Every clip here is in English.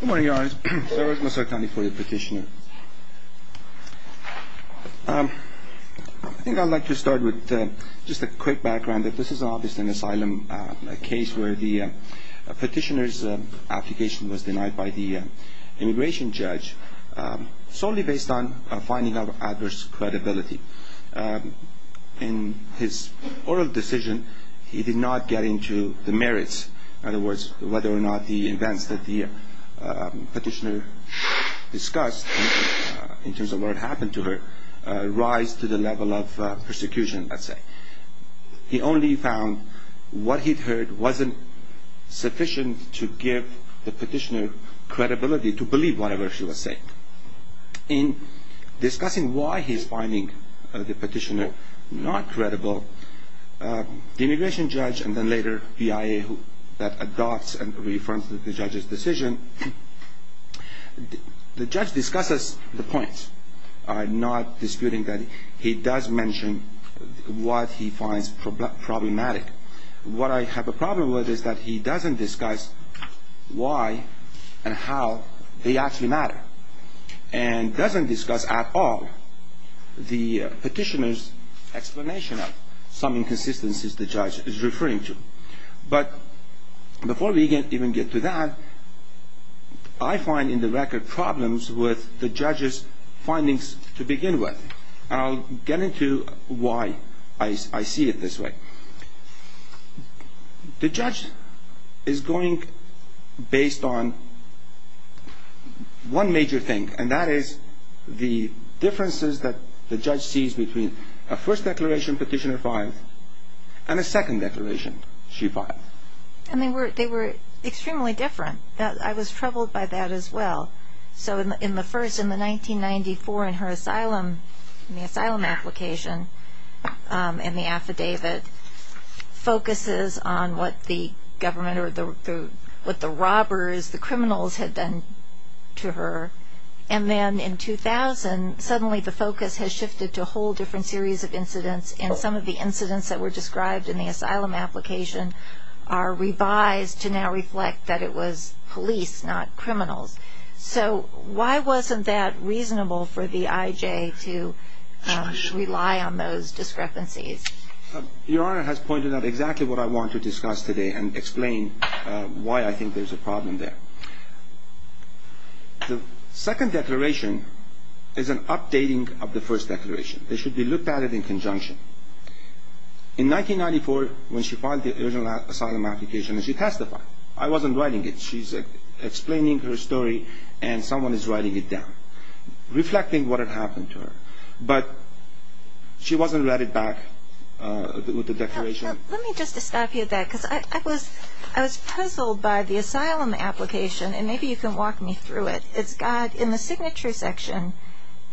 Good morning Your Honors, I work for the Missouri County Court of Petitioners. I think I'd like to start with just a quick background. This is obviously an asylum case where the petitioner's application was denied by the immigration judge solely based on finding of adverse credibility. In his oral decision, he did not get into the merits, in other words, whether or not the events that the petitioner discussed in terms of what had happened to her rise to the level of persecution, let's say. He only found what he'd heard wasn't sufficient to give the petitioner credibility to believe whatever she was saying. In discussing why he's finding the petitioner not credible, the immigration judge, and then later the BIA that adopts and reaffirms the judge's decision, the judge discusses the points, not disputing that he does mention what he finds problematic. What I have a problem with is that he doesn't discuss why and how they actually matter, and doesn't discuss at all the petitioner's explanation of some inconsistencies the judge is referring to. But before we even get to that, I find in the record problems with the judge's findings to begin with, and I'll get into why I see it this way. The judge is going based on one major thing, and that is the differences that the judge sees between a first declaration petitioner filed and a second declaration she filed. And they were extremely different. I was troubled by that as well. So in the first, in the 1994, in her asylum, in the asylum application and the affidavit, focuses on what the government or what the robbers, the criminals had done to her. And then in 2000, suddenly the focus has shifted to a whole different series of incidents, and some of the incidents that were described in the asylum application are revised to now reflect that it was police, not criminals. So why wasn't that reasonable for the IJ to rely on those discrepancies? Your Honor has pointed out exactly what I want to discuss today and explain why I think there's a problem there. The second declaration is an updating of the first declaration. They should be looked at it in conjunction. In 1994, when she filed the original asylum application, she testified. I wasn't writing it. She's explaining her story, and someone is writing it down, reflecting what had happened to her. But she wasn't read it back with the declaration. Let me just stop you at that, because I was puzzled by the asylum application, and maybe you can walk me through it. It's got, in the signature section,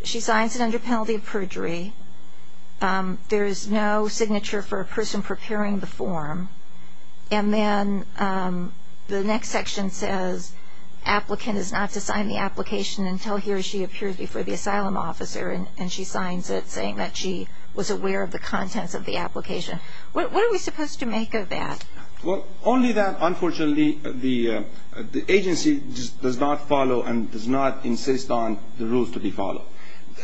she signs it under penalty of perjury. There is no signature for a person preparing the form. And then the next section says applicant is not to sign the application until he or she appears before the asylum officer, and she signs it saying that she was aware of the contents of the application. What are we supposed to make of that? Well, only that, unfortunately, the agency does not follow and does not insist on the rules to be followed.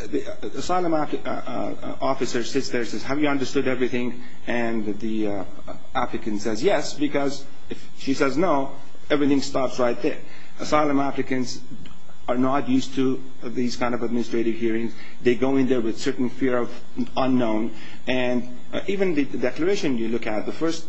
The asylum officer sits there and says, have you understood everything? And the applicant says yes, because if she says no, everything stops right there. Asylum applicants are not used to these kind of administrative hearings. They go in there with certain fear of unknown. And even the declaration you look at, the first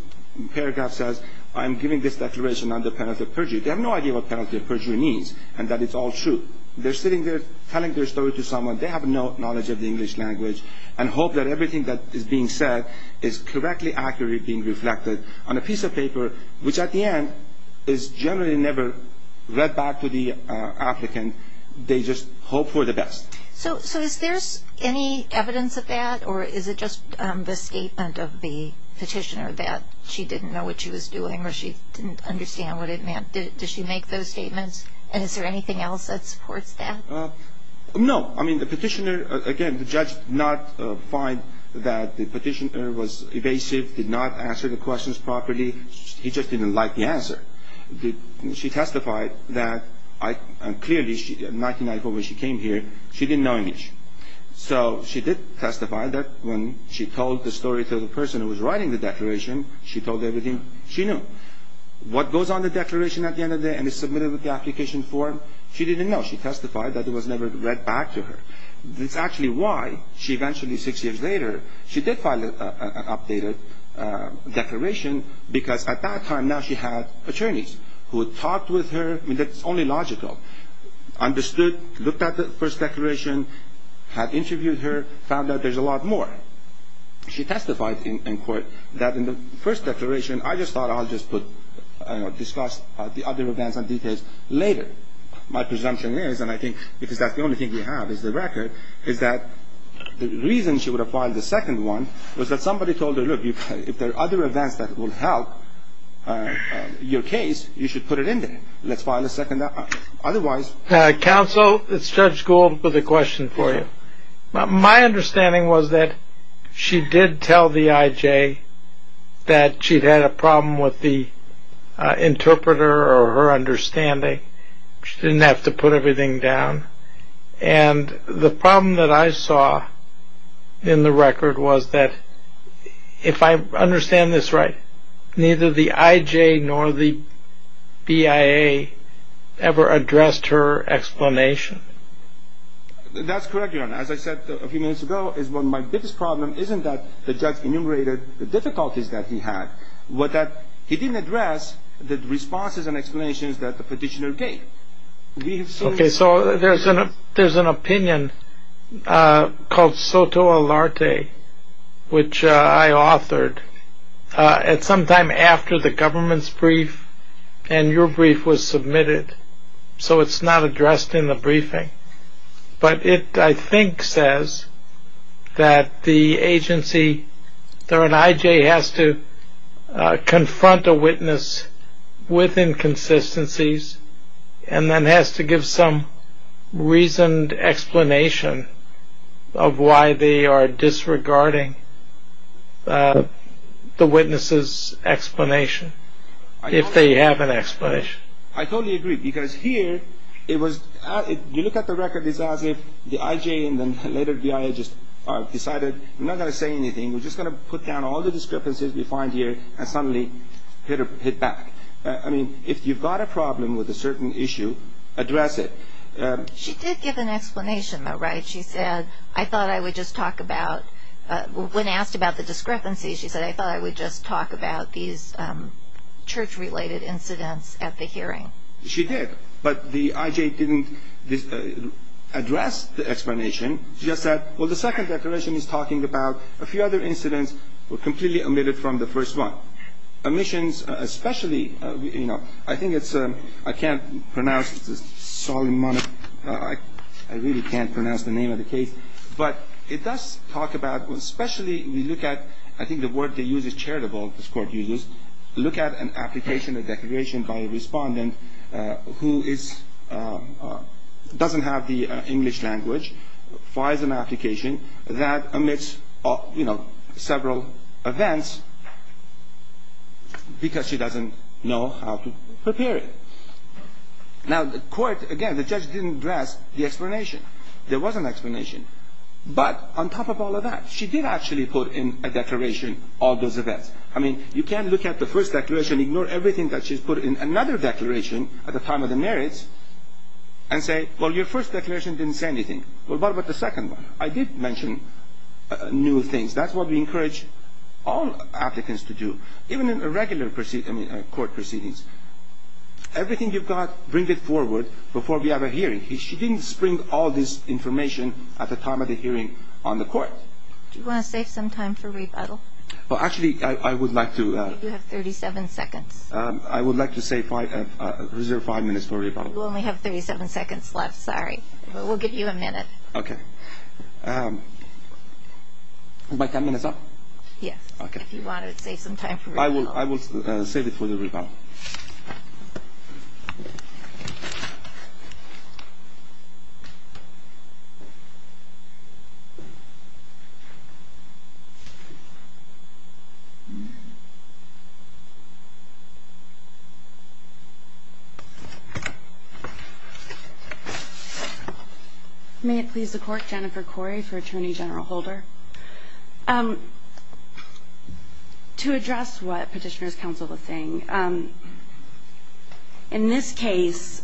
paragraph says, I'm giving this declaration under penalty of perjury. They have no idea what penalty of perjury means and that it's all true. They're sitting there telling their story to someone. They have no knowledge of the English language and hope that everything that is being said is correctly, accurately being reflected on a piece of paper, which at the end is generally never read back to the applicant. They just hope for the best. So is there any evidence of that, or is it just the statement of the petitioner that she didn't know what she was doing or she didn't understand what it meant? Does she make those statements? And is there anything else that supports that? No. I mean, the petitioner, again, the judge did not find that the petitioner was evasive, did not answer the questions properly. He just didn't like the answer. She testified that clearly in 1994 when she came here, she didn't know English. So she did testify that when she told the story to the person who was writing the declaration, she told everything she knew. What goes on the declaration at the end of the day and is submitted with the application form, she didn't know. She testified that it was never read back to her. That's actually why she eventually, six years later, she did file an updated declaration because at that time now she had attorneys who had talked with her. I mean, that's only logical. Understood, looked at the first declaration, had interviewed her, found out there's a lot more. She testified in court that in the first declaration, I just thought I'll just put, discuss the other events and details later. My presumption is, and I think because that's the only thing we have is the record, is that the reason she would have filed the second one was that somebody told her, look, if there are other events that will help your case, you should put it in there. Let's file a second. Otherwise. Counsel, it's Judge Gould with a question for you. My understanding was that she did tell the IJ that she'd had a problem with the interpreter or her understanding. She didn't have to put everything down. And the problem that I saw in the record was that, if I understand this right, neither the IJ nor the BIA ever addressed her explanation. That's correct, Your Honor. As I said a few minutes ago, my biggest problem isn't that the judge enumerated the difficulties that he had, but that he didn't address the responses and explanations that the petitioner gave. Okay, so there's an opinion called Soto Alarte, which I authored at some time after the government's brief and your brief was submitted. So it's not addressed in the briefing. But it, I think, says that the agency or an IJ has to confront a witness with inconsistencies and then has to give some reasoned explanation of why they are disregarding the witness's explanation, if they have an explanation. I totally agree. Because here, it was, you look at the record, it's as if the IJ and then later BIA just decided, we're not going to say anything, we're just going to put down all the discrepancies we find here, and suddenly hit back. I mean, if you've got a problem with a certain issue, address it. She did give an explanation, though, right? She said, I thought I would just talk about, when asked about the discrepancies, she said, I thought I would just talk about these church-related incidents at the hearing. She did. But the IJ didn't address the explanation. She just said, well, the second declaration is talking about a few other incidents were completely omitted from the first one. Omissions, especially, you know, I think it's, I can't pronounce, it's a solemn moment, I really can't pronounce the name of the case. But it does talk about, especially, we look at, I think the word they use is charitable, this Court uses, look at an application, a declaration by a respondent, who is, doesn't have the English language, files an application that omits, you know, several events, because she doesn't know how to prepare it. Now, the Court, again, the judge didn't address the explanation. There was an explanation. But on top of all of that, she did actually put in a declaration all those events. I mean, you can't look at the first declaration, ignore everything that she's put in another declaration at the time of the merits, and say, well, your first declaration didn't say anything. Well, what about the second one? I did mention new things. That's what we encourage all applicants to do, even in a regular court proceedings. Everything you've got, bring it forward before we have a hearing. She didn't bring all this information at the time of the hearing on the Court. Do you want to save some time for rebuttal? Well, actually, I would like to. You have 37 seconds. I would like to save five, reserve five minutes for rebuttal. You only have 37 seconds left. Sorry. We'll give you a minute. Okay. Am I ten minutes up? Yes. Okay. If you want to save some time for rebuttal. I will save it for the rebuttal. Thank you. May it please the Court. Jennifer Corey for Attorney General Holder. To address what Petitioner's Counsel was saying, in this case,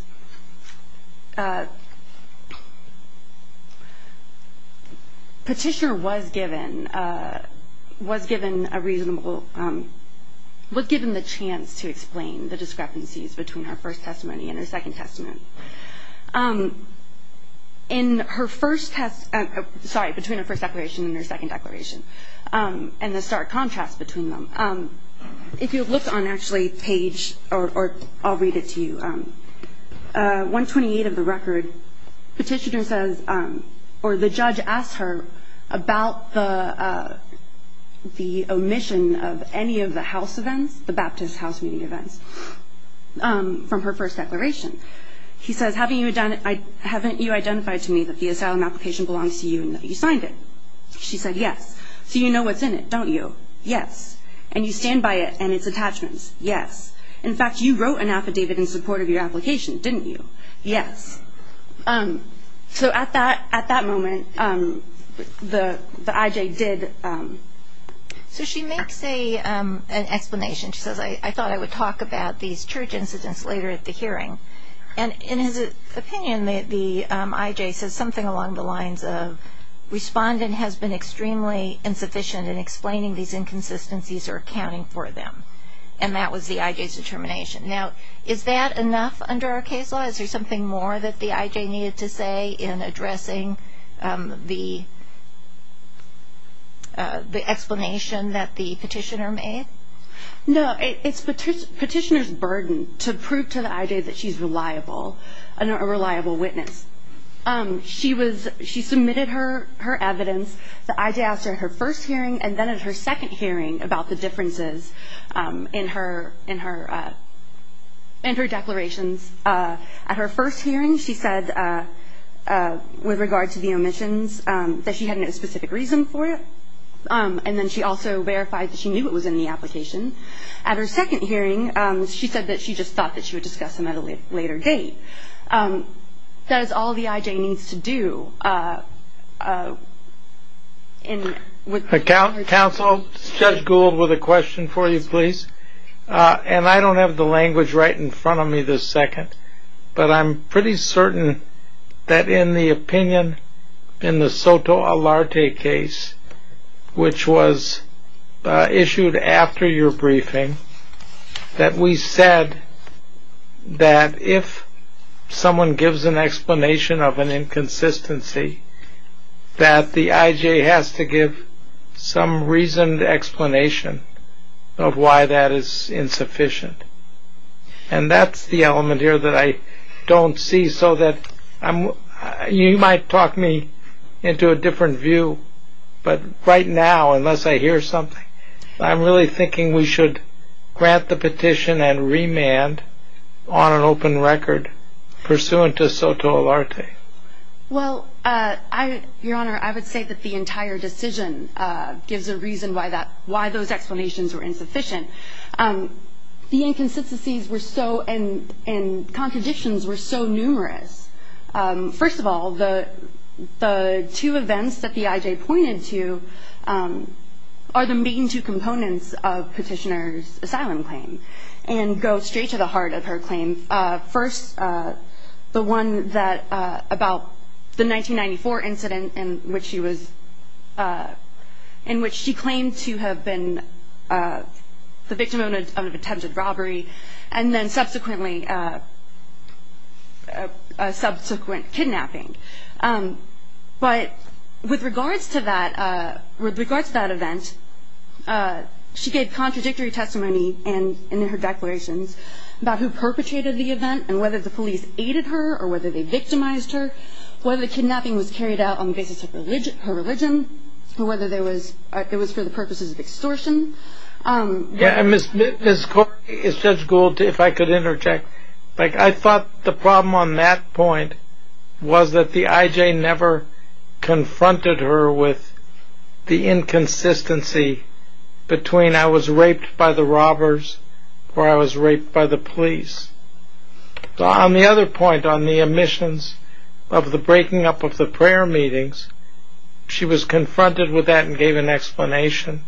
Petitioner was given a reasonable, was given the chance to explain the discrepancies between her first testimony and her Second Testament. In her first test, sorry, between her first declaration and her second declaration, and the stark contrast between them, if you look on, actually, page, or I'll read it to you, 128 of the record, Petitioner says, or the judge asks her about the omission of any of the house events, the Baptist house meeting events, from her first declaration. He says, haven't you identified to me that the asylum application belongs to you and that you signed it? She said, yes. So you know what's in it, don't you? Yes. And you stand by it and its attachments? Yes. In fact, you wrote an affidavit in support of your application, didn't you? Yes. So at that moment, the IJ did. So she makes an explanation. She says, I thought I would talk about these church incidents later at the hearing. And in his opinion, the IJ says something along the lines of, respondent has been extremely insufficient in explaining these inconsistencies or accounting for them. And that was the IJ's determination. Now, is that enough under our case law? Is there something more that the IJ needed to say in addressing the explanation that the Petitioner made? No. It's Petitioner's burden to prove to the IJ that she's reliable, a reliable witness. She submitted her evidence. The IJ asked her in her first hearing and then at her second hearing about the differences in her declarations. At her first hearing, she said, with regard to the omissions, that she had no specific reason for it. And then she also verified that she knew it was in the application. At her second hearing, she said that she just thought that she would discuss them at a later date. That is all the IJ needs to do. Counsel, Judge Gould with a question for you, please. And I don't have the language right in front of me this second, but I'm pretty certain that in the opinion in the Soto Alarte case, which was issued after your briefing, that we said that if someone gives an explanation of an inconsistency, that the IJ has to give some reasoned explanation of why that is insufficient. And that's the element here that I don't see, You might talk me into a different view, but right now, unless I hear something, I'm really thinking we should grant the petition and remand on an open record pursuant to Soto Alarte. Well, Your Honor, I would say that the entire decision gives a reason why those explanations were insufficient. The inconsistencies and contradictions were so numerous. First of all, the two events that the IJ pointed to are the main two components of Petitioner's asylum claim and go straight to the heart of her claim. First, the one about the 1994 incident in which she claimed to have been the victim of an attempted robbery and then subsequently a subsequent kidnapping. But with regards to that event, she gave contradictory testimony in her declarations about who perpetrated the event and whether the police aided her or whether they victimized her, whether the kidnapping was carried out on the basis of her religion, whether it was for the purposes of extortion. Ms. Corky, if Judge Gould, if I could interject, I thought the problem on that point was that the IJ never confronted her with the inconsistency between I was raped by the robbers or I was raped by the police. On the other point, on the omissions of the breaking up of the prayer meetings, she was confronted with that and gave an explanation.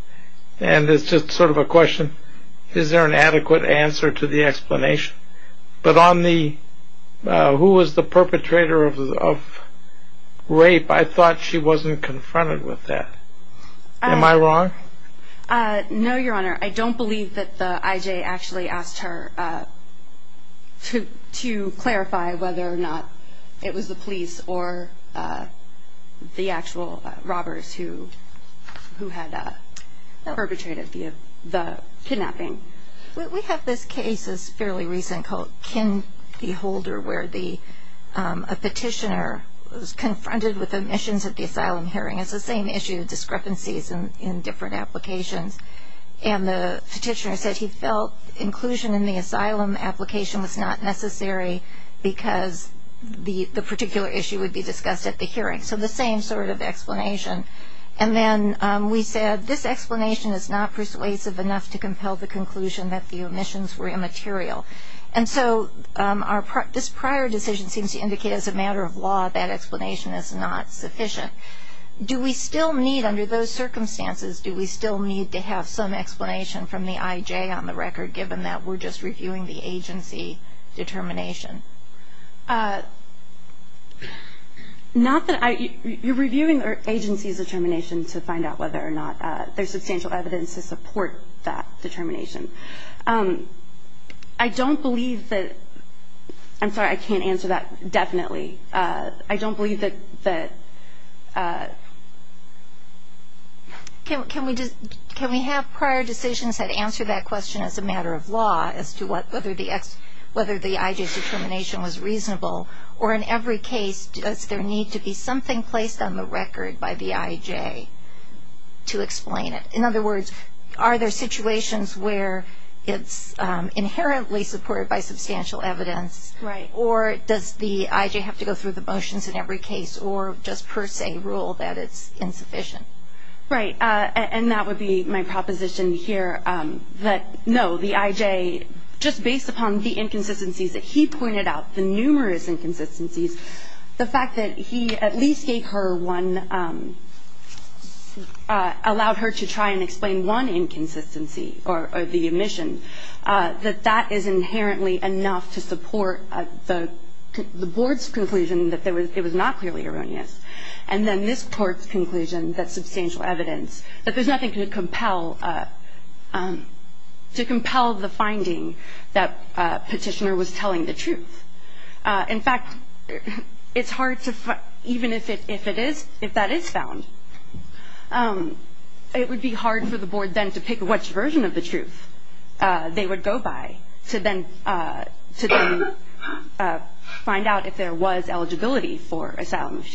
And it's just sort of a question, is there an adequate answer to the explanation? But on the who was the perpetrator of rape, I thought she wasn't confronted with that. Am I wrong? No, Your Honor. I don't believe that the IJ actually asked her to clarify whether or not it was the police or the actual robbers who had perpetrated the kidnapping. We have this case that's fairly recent called Kinney Holder where a petitioner was confronted with omissions at the asylum hearing. It's the same issue, discrepancies in different applications. And the petitioner said he felt inclusion in the asylum application was not necessary because the particular issue would be discussed at the hearing. So the same sort of explanation. And then we said this explanation is not persuasive enough to compel the conclusion that the omissions were immaterial. And so this prior decision seems to indicate as a matter of law that explanation is not sufficient. Do we still need, under those circumstances, do we still need to have some explanation from the IJ on the record, given that we're just reviewing the agency determination? Not that I – you're reviewing the agency's determination to find out whether or not there's substantial evidence to support that determination. I don't believe that – I'm sorry, I can't answer that definitely. I don't believe that – Can we have prior decisions that answer that question as a matter of law as to whether the IJ's determination was reasonable, or in every case does there need to be something placed on the record by the IJ to explain it? In other words, are there situations where it's inherently supported by substantial evidence, or does the IJ have to go through the motions in every case or just per se rule that it's insufficient? Right. And that would be my proposition here, that no, the IJ, just based upon the inconsistencies that he pointed out, the numerous inconsistencies, the fact that he at least gave her one – allowed her to try and explain one inconsistency or the omission, that that is inherently enough to support the Board's conclusion that it was not clearly erroneous, and then this Court's conclusion that substantial evidence – that there's nothing to compel the finding that Petitioner was telling the truth. In fact, it's hard to – even if it is, if that is found, it would be hard for the Board then to pick which version of the truth they would go by to then find out if there was eligibility for asylum, if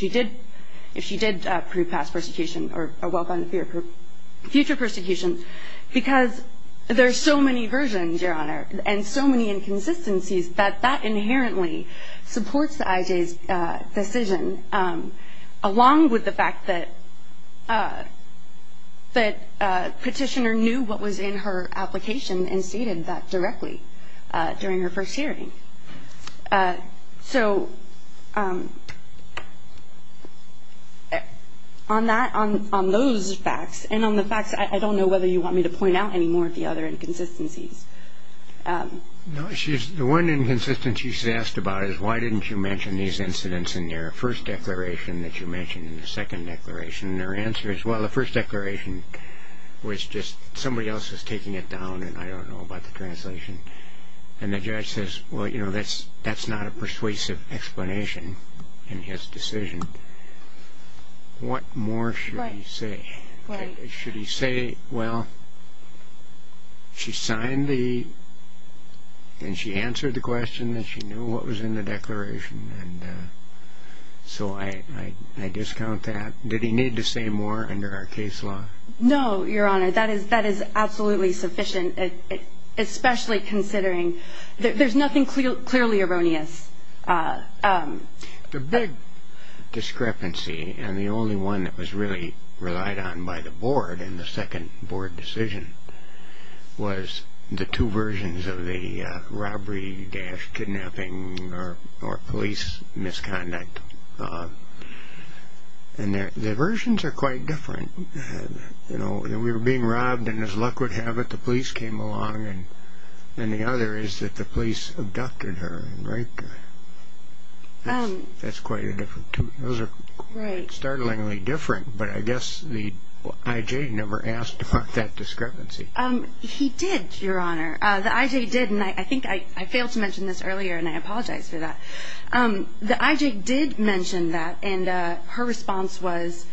she did prove past persecution or well gone future persecution, because there are so many versions, Your Honor, and so many inconsistencies that that inherently supports the IJ's decision, along with the fact that Petitioner knew what was in her application and stated that directly during her first hearing. So on that – on those facts, and on the facts I don't know whether you want me to point out any more of the other inconsistencies. No, she's – the one inconsistency she's asked about is why didn't you mention these incidents in your first declaration that you mentioned in the second declaration? And her answer is, well, the first declaration was just somebody else was taking it down, and I don't know about the translation. And the judge says, well, you know, that's not a persuasive explanation in his decision. What more should he say? Should he say, well, she signed the – and she answered the question that she knew what was in the declaration, and so I discount that. Did he need to say more under our case law? No, Your Honor, that is absolutely sufficient, especially considering there's nothing clearly erroneous. The big discrepancy, and the only one that was really relied on by the board in the second board decision was the two versions of the robbery, dash, kidnapping, or police misconduct. And the versions are quite different. You know, we were being robbed, and as luck would have it, the police came along, and the other is that the police abducted her and raped her. That's quite a different – those are quite startlingly different. But I guess the I.J. never asked for that discrepancy. He did, Your Honor. The I.J. did, and I think I failed to mention this earlier, and I apologize for that. The I.J. did mention that, and her response was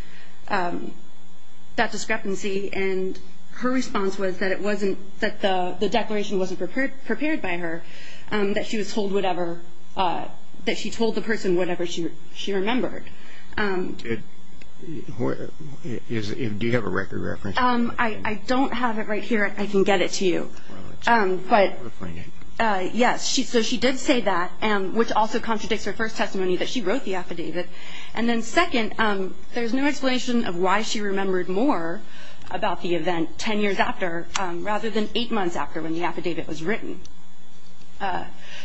that discrepancy, and her response was that it wasn't – that the declaration wasn't prepared by her, that she was told whatever – that she told the person whatever she remembered. Do you have a record reference? I don't have it right here. I can get it to you. But, yes, so she did say that, which also contradicts her first testimony that she wrote the affidavit. And then second, there's no explanation of why she remembered more about the event ten years after rather than eight months after when the affidavit was written.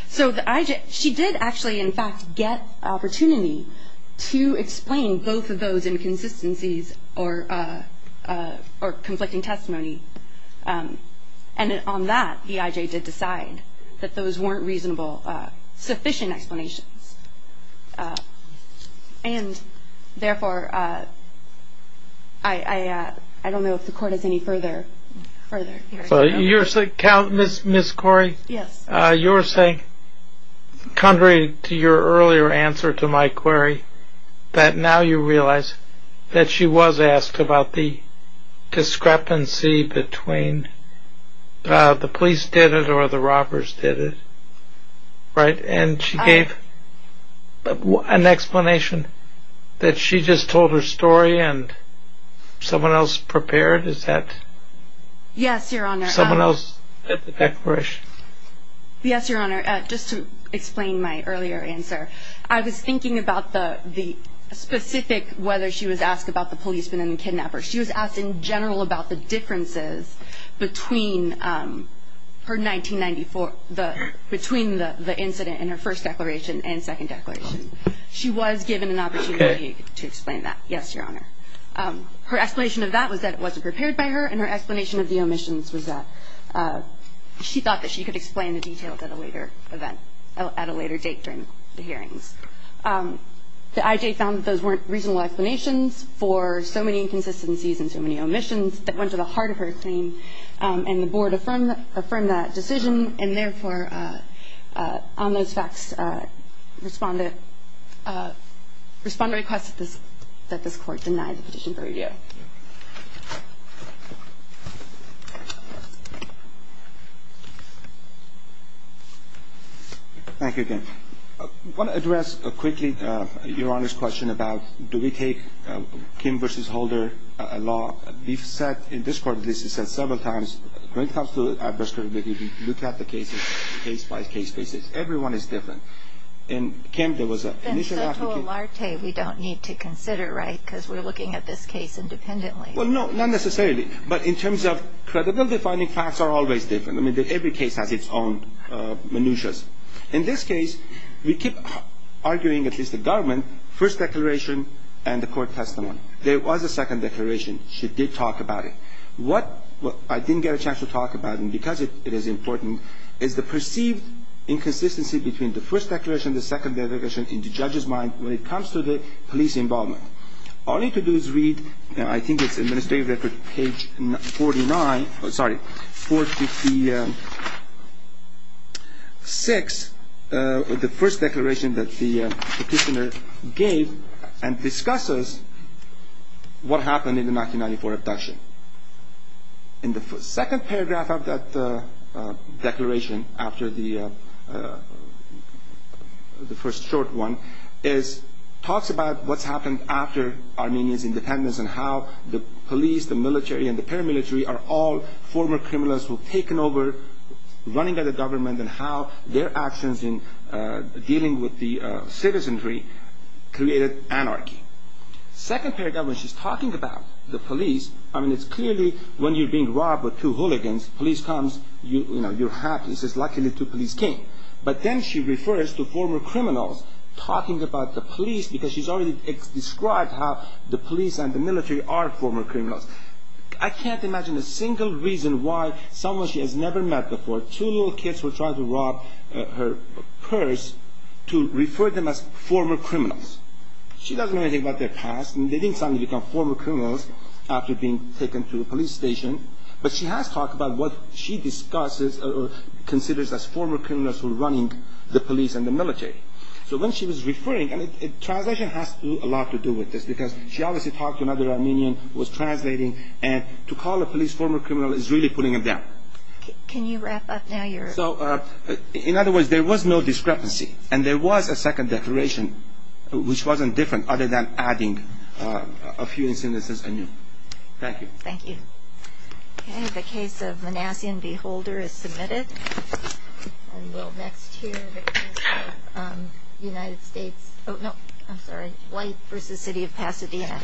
So the I.J. – she did actually, in fact, get an opportunity to explain both of those inconsistencies or conflicting testimony. And on that, the I.J. did decide that those weren't reasonable, sufficient explanations. And, therefore, I don't know if the Court has any further – further – Ms. Corey? Yes. You were saying, contrary to your earlier answer to my query, that now you realize that she was asked about the discrepancy between the police did it or the robbers did it. Right? And she gave an explanation that she just told her story and someone else prepared. Is that – Yes, Your Honor. Someone else did the declaration. Yes, Your Honor. Just to explain my earlier answer, I was thinking about the specific – whether she was asked about the policeman and the kidnapper. She was asked in general about the differences between her 1994 – between the incident in her first declaration and second declaration. She was given an opportunity to explain that. Yes, Your Honor. Her explanation of that was that it wasn't prepared by her, and her explanation of the omissions was that she thought that she could explain the details at a later event – at a later date during the hearings. The I.J. found that those weren't reasonable explanations for so many inconsistencies and so many omissions that went to the heart of her claim, and the Board affirmed that decision. And therefore, on those facts, respond to requests that this Court deny the petition for review. Thank you, again. I want to address quickly Your Honor's question about do we take Kim v. Holder law. We've said in this court, at least we've said several times, when it comes to adverse credibility, we look at the cases case-by-case basis. Everyone is different. And Kim, there was an initial – Then Soto Olarte we don't need to consider, right? Because we're looking at this case independently. Well, no, not necessarily. But in terms of credible defining facts are always different. I mean, every case has its own minutiae. In this case, we keep arguing, at least the government, first declaration and the court testimony. There was a second declaration. She did talk about it. What I didn't get a chance to talk about, and because it is important, is the perceived inconsistency between the first declaration, the second declaration, in the judge's mind when it comes to the police involvement. All you need to do is read, I think it's administrative record, page 49 – sorry, 456, the first declaration that the petitioner gave and discusses what happened in the 1994 abduction. In the second paragraph of that declaration, after the first short one, it talks about what's happened after Armenia's independence and how the police, the military, and the paramilitary are all former criminals who have taken over, running out of government, and how their actions in dealing with the citizenry created anarchy. Second paragraph, when she's talking about the police, I mean, it's clearly when you're being robbed with two hooligans, police comes, you know, you're happy. It says, luckily, two police came. But then she refers to former criminals talking about the police because she's already described how the police and the military are former criminals. I can't imagine a single reason why someone she has never met before, two little kids who are trying to rob her purse, to refer them as former criminals. She doesn't know anything about their past. They didn't suddenly become former criminals after being taken to the police station. But she has talked about what she discusses or considers as former criminals who are running the police and the military. So when she was referring, and translation has a lot to do with this because she obviously talked to another Armenian who was translating, and to call a police former criminal is really putting it down. Can you wrap up now? In other words, there was no discrepancy, and there was a second declaration, which wasn't different other than adding a few instances anew. Thank you. Thank you. Okay, the case of Manassian v. Holder is submitted. And we'll next hear the case of White v. City of Pasadena.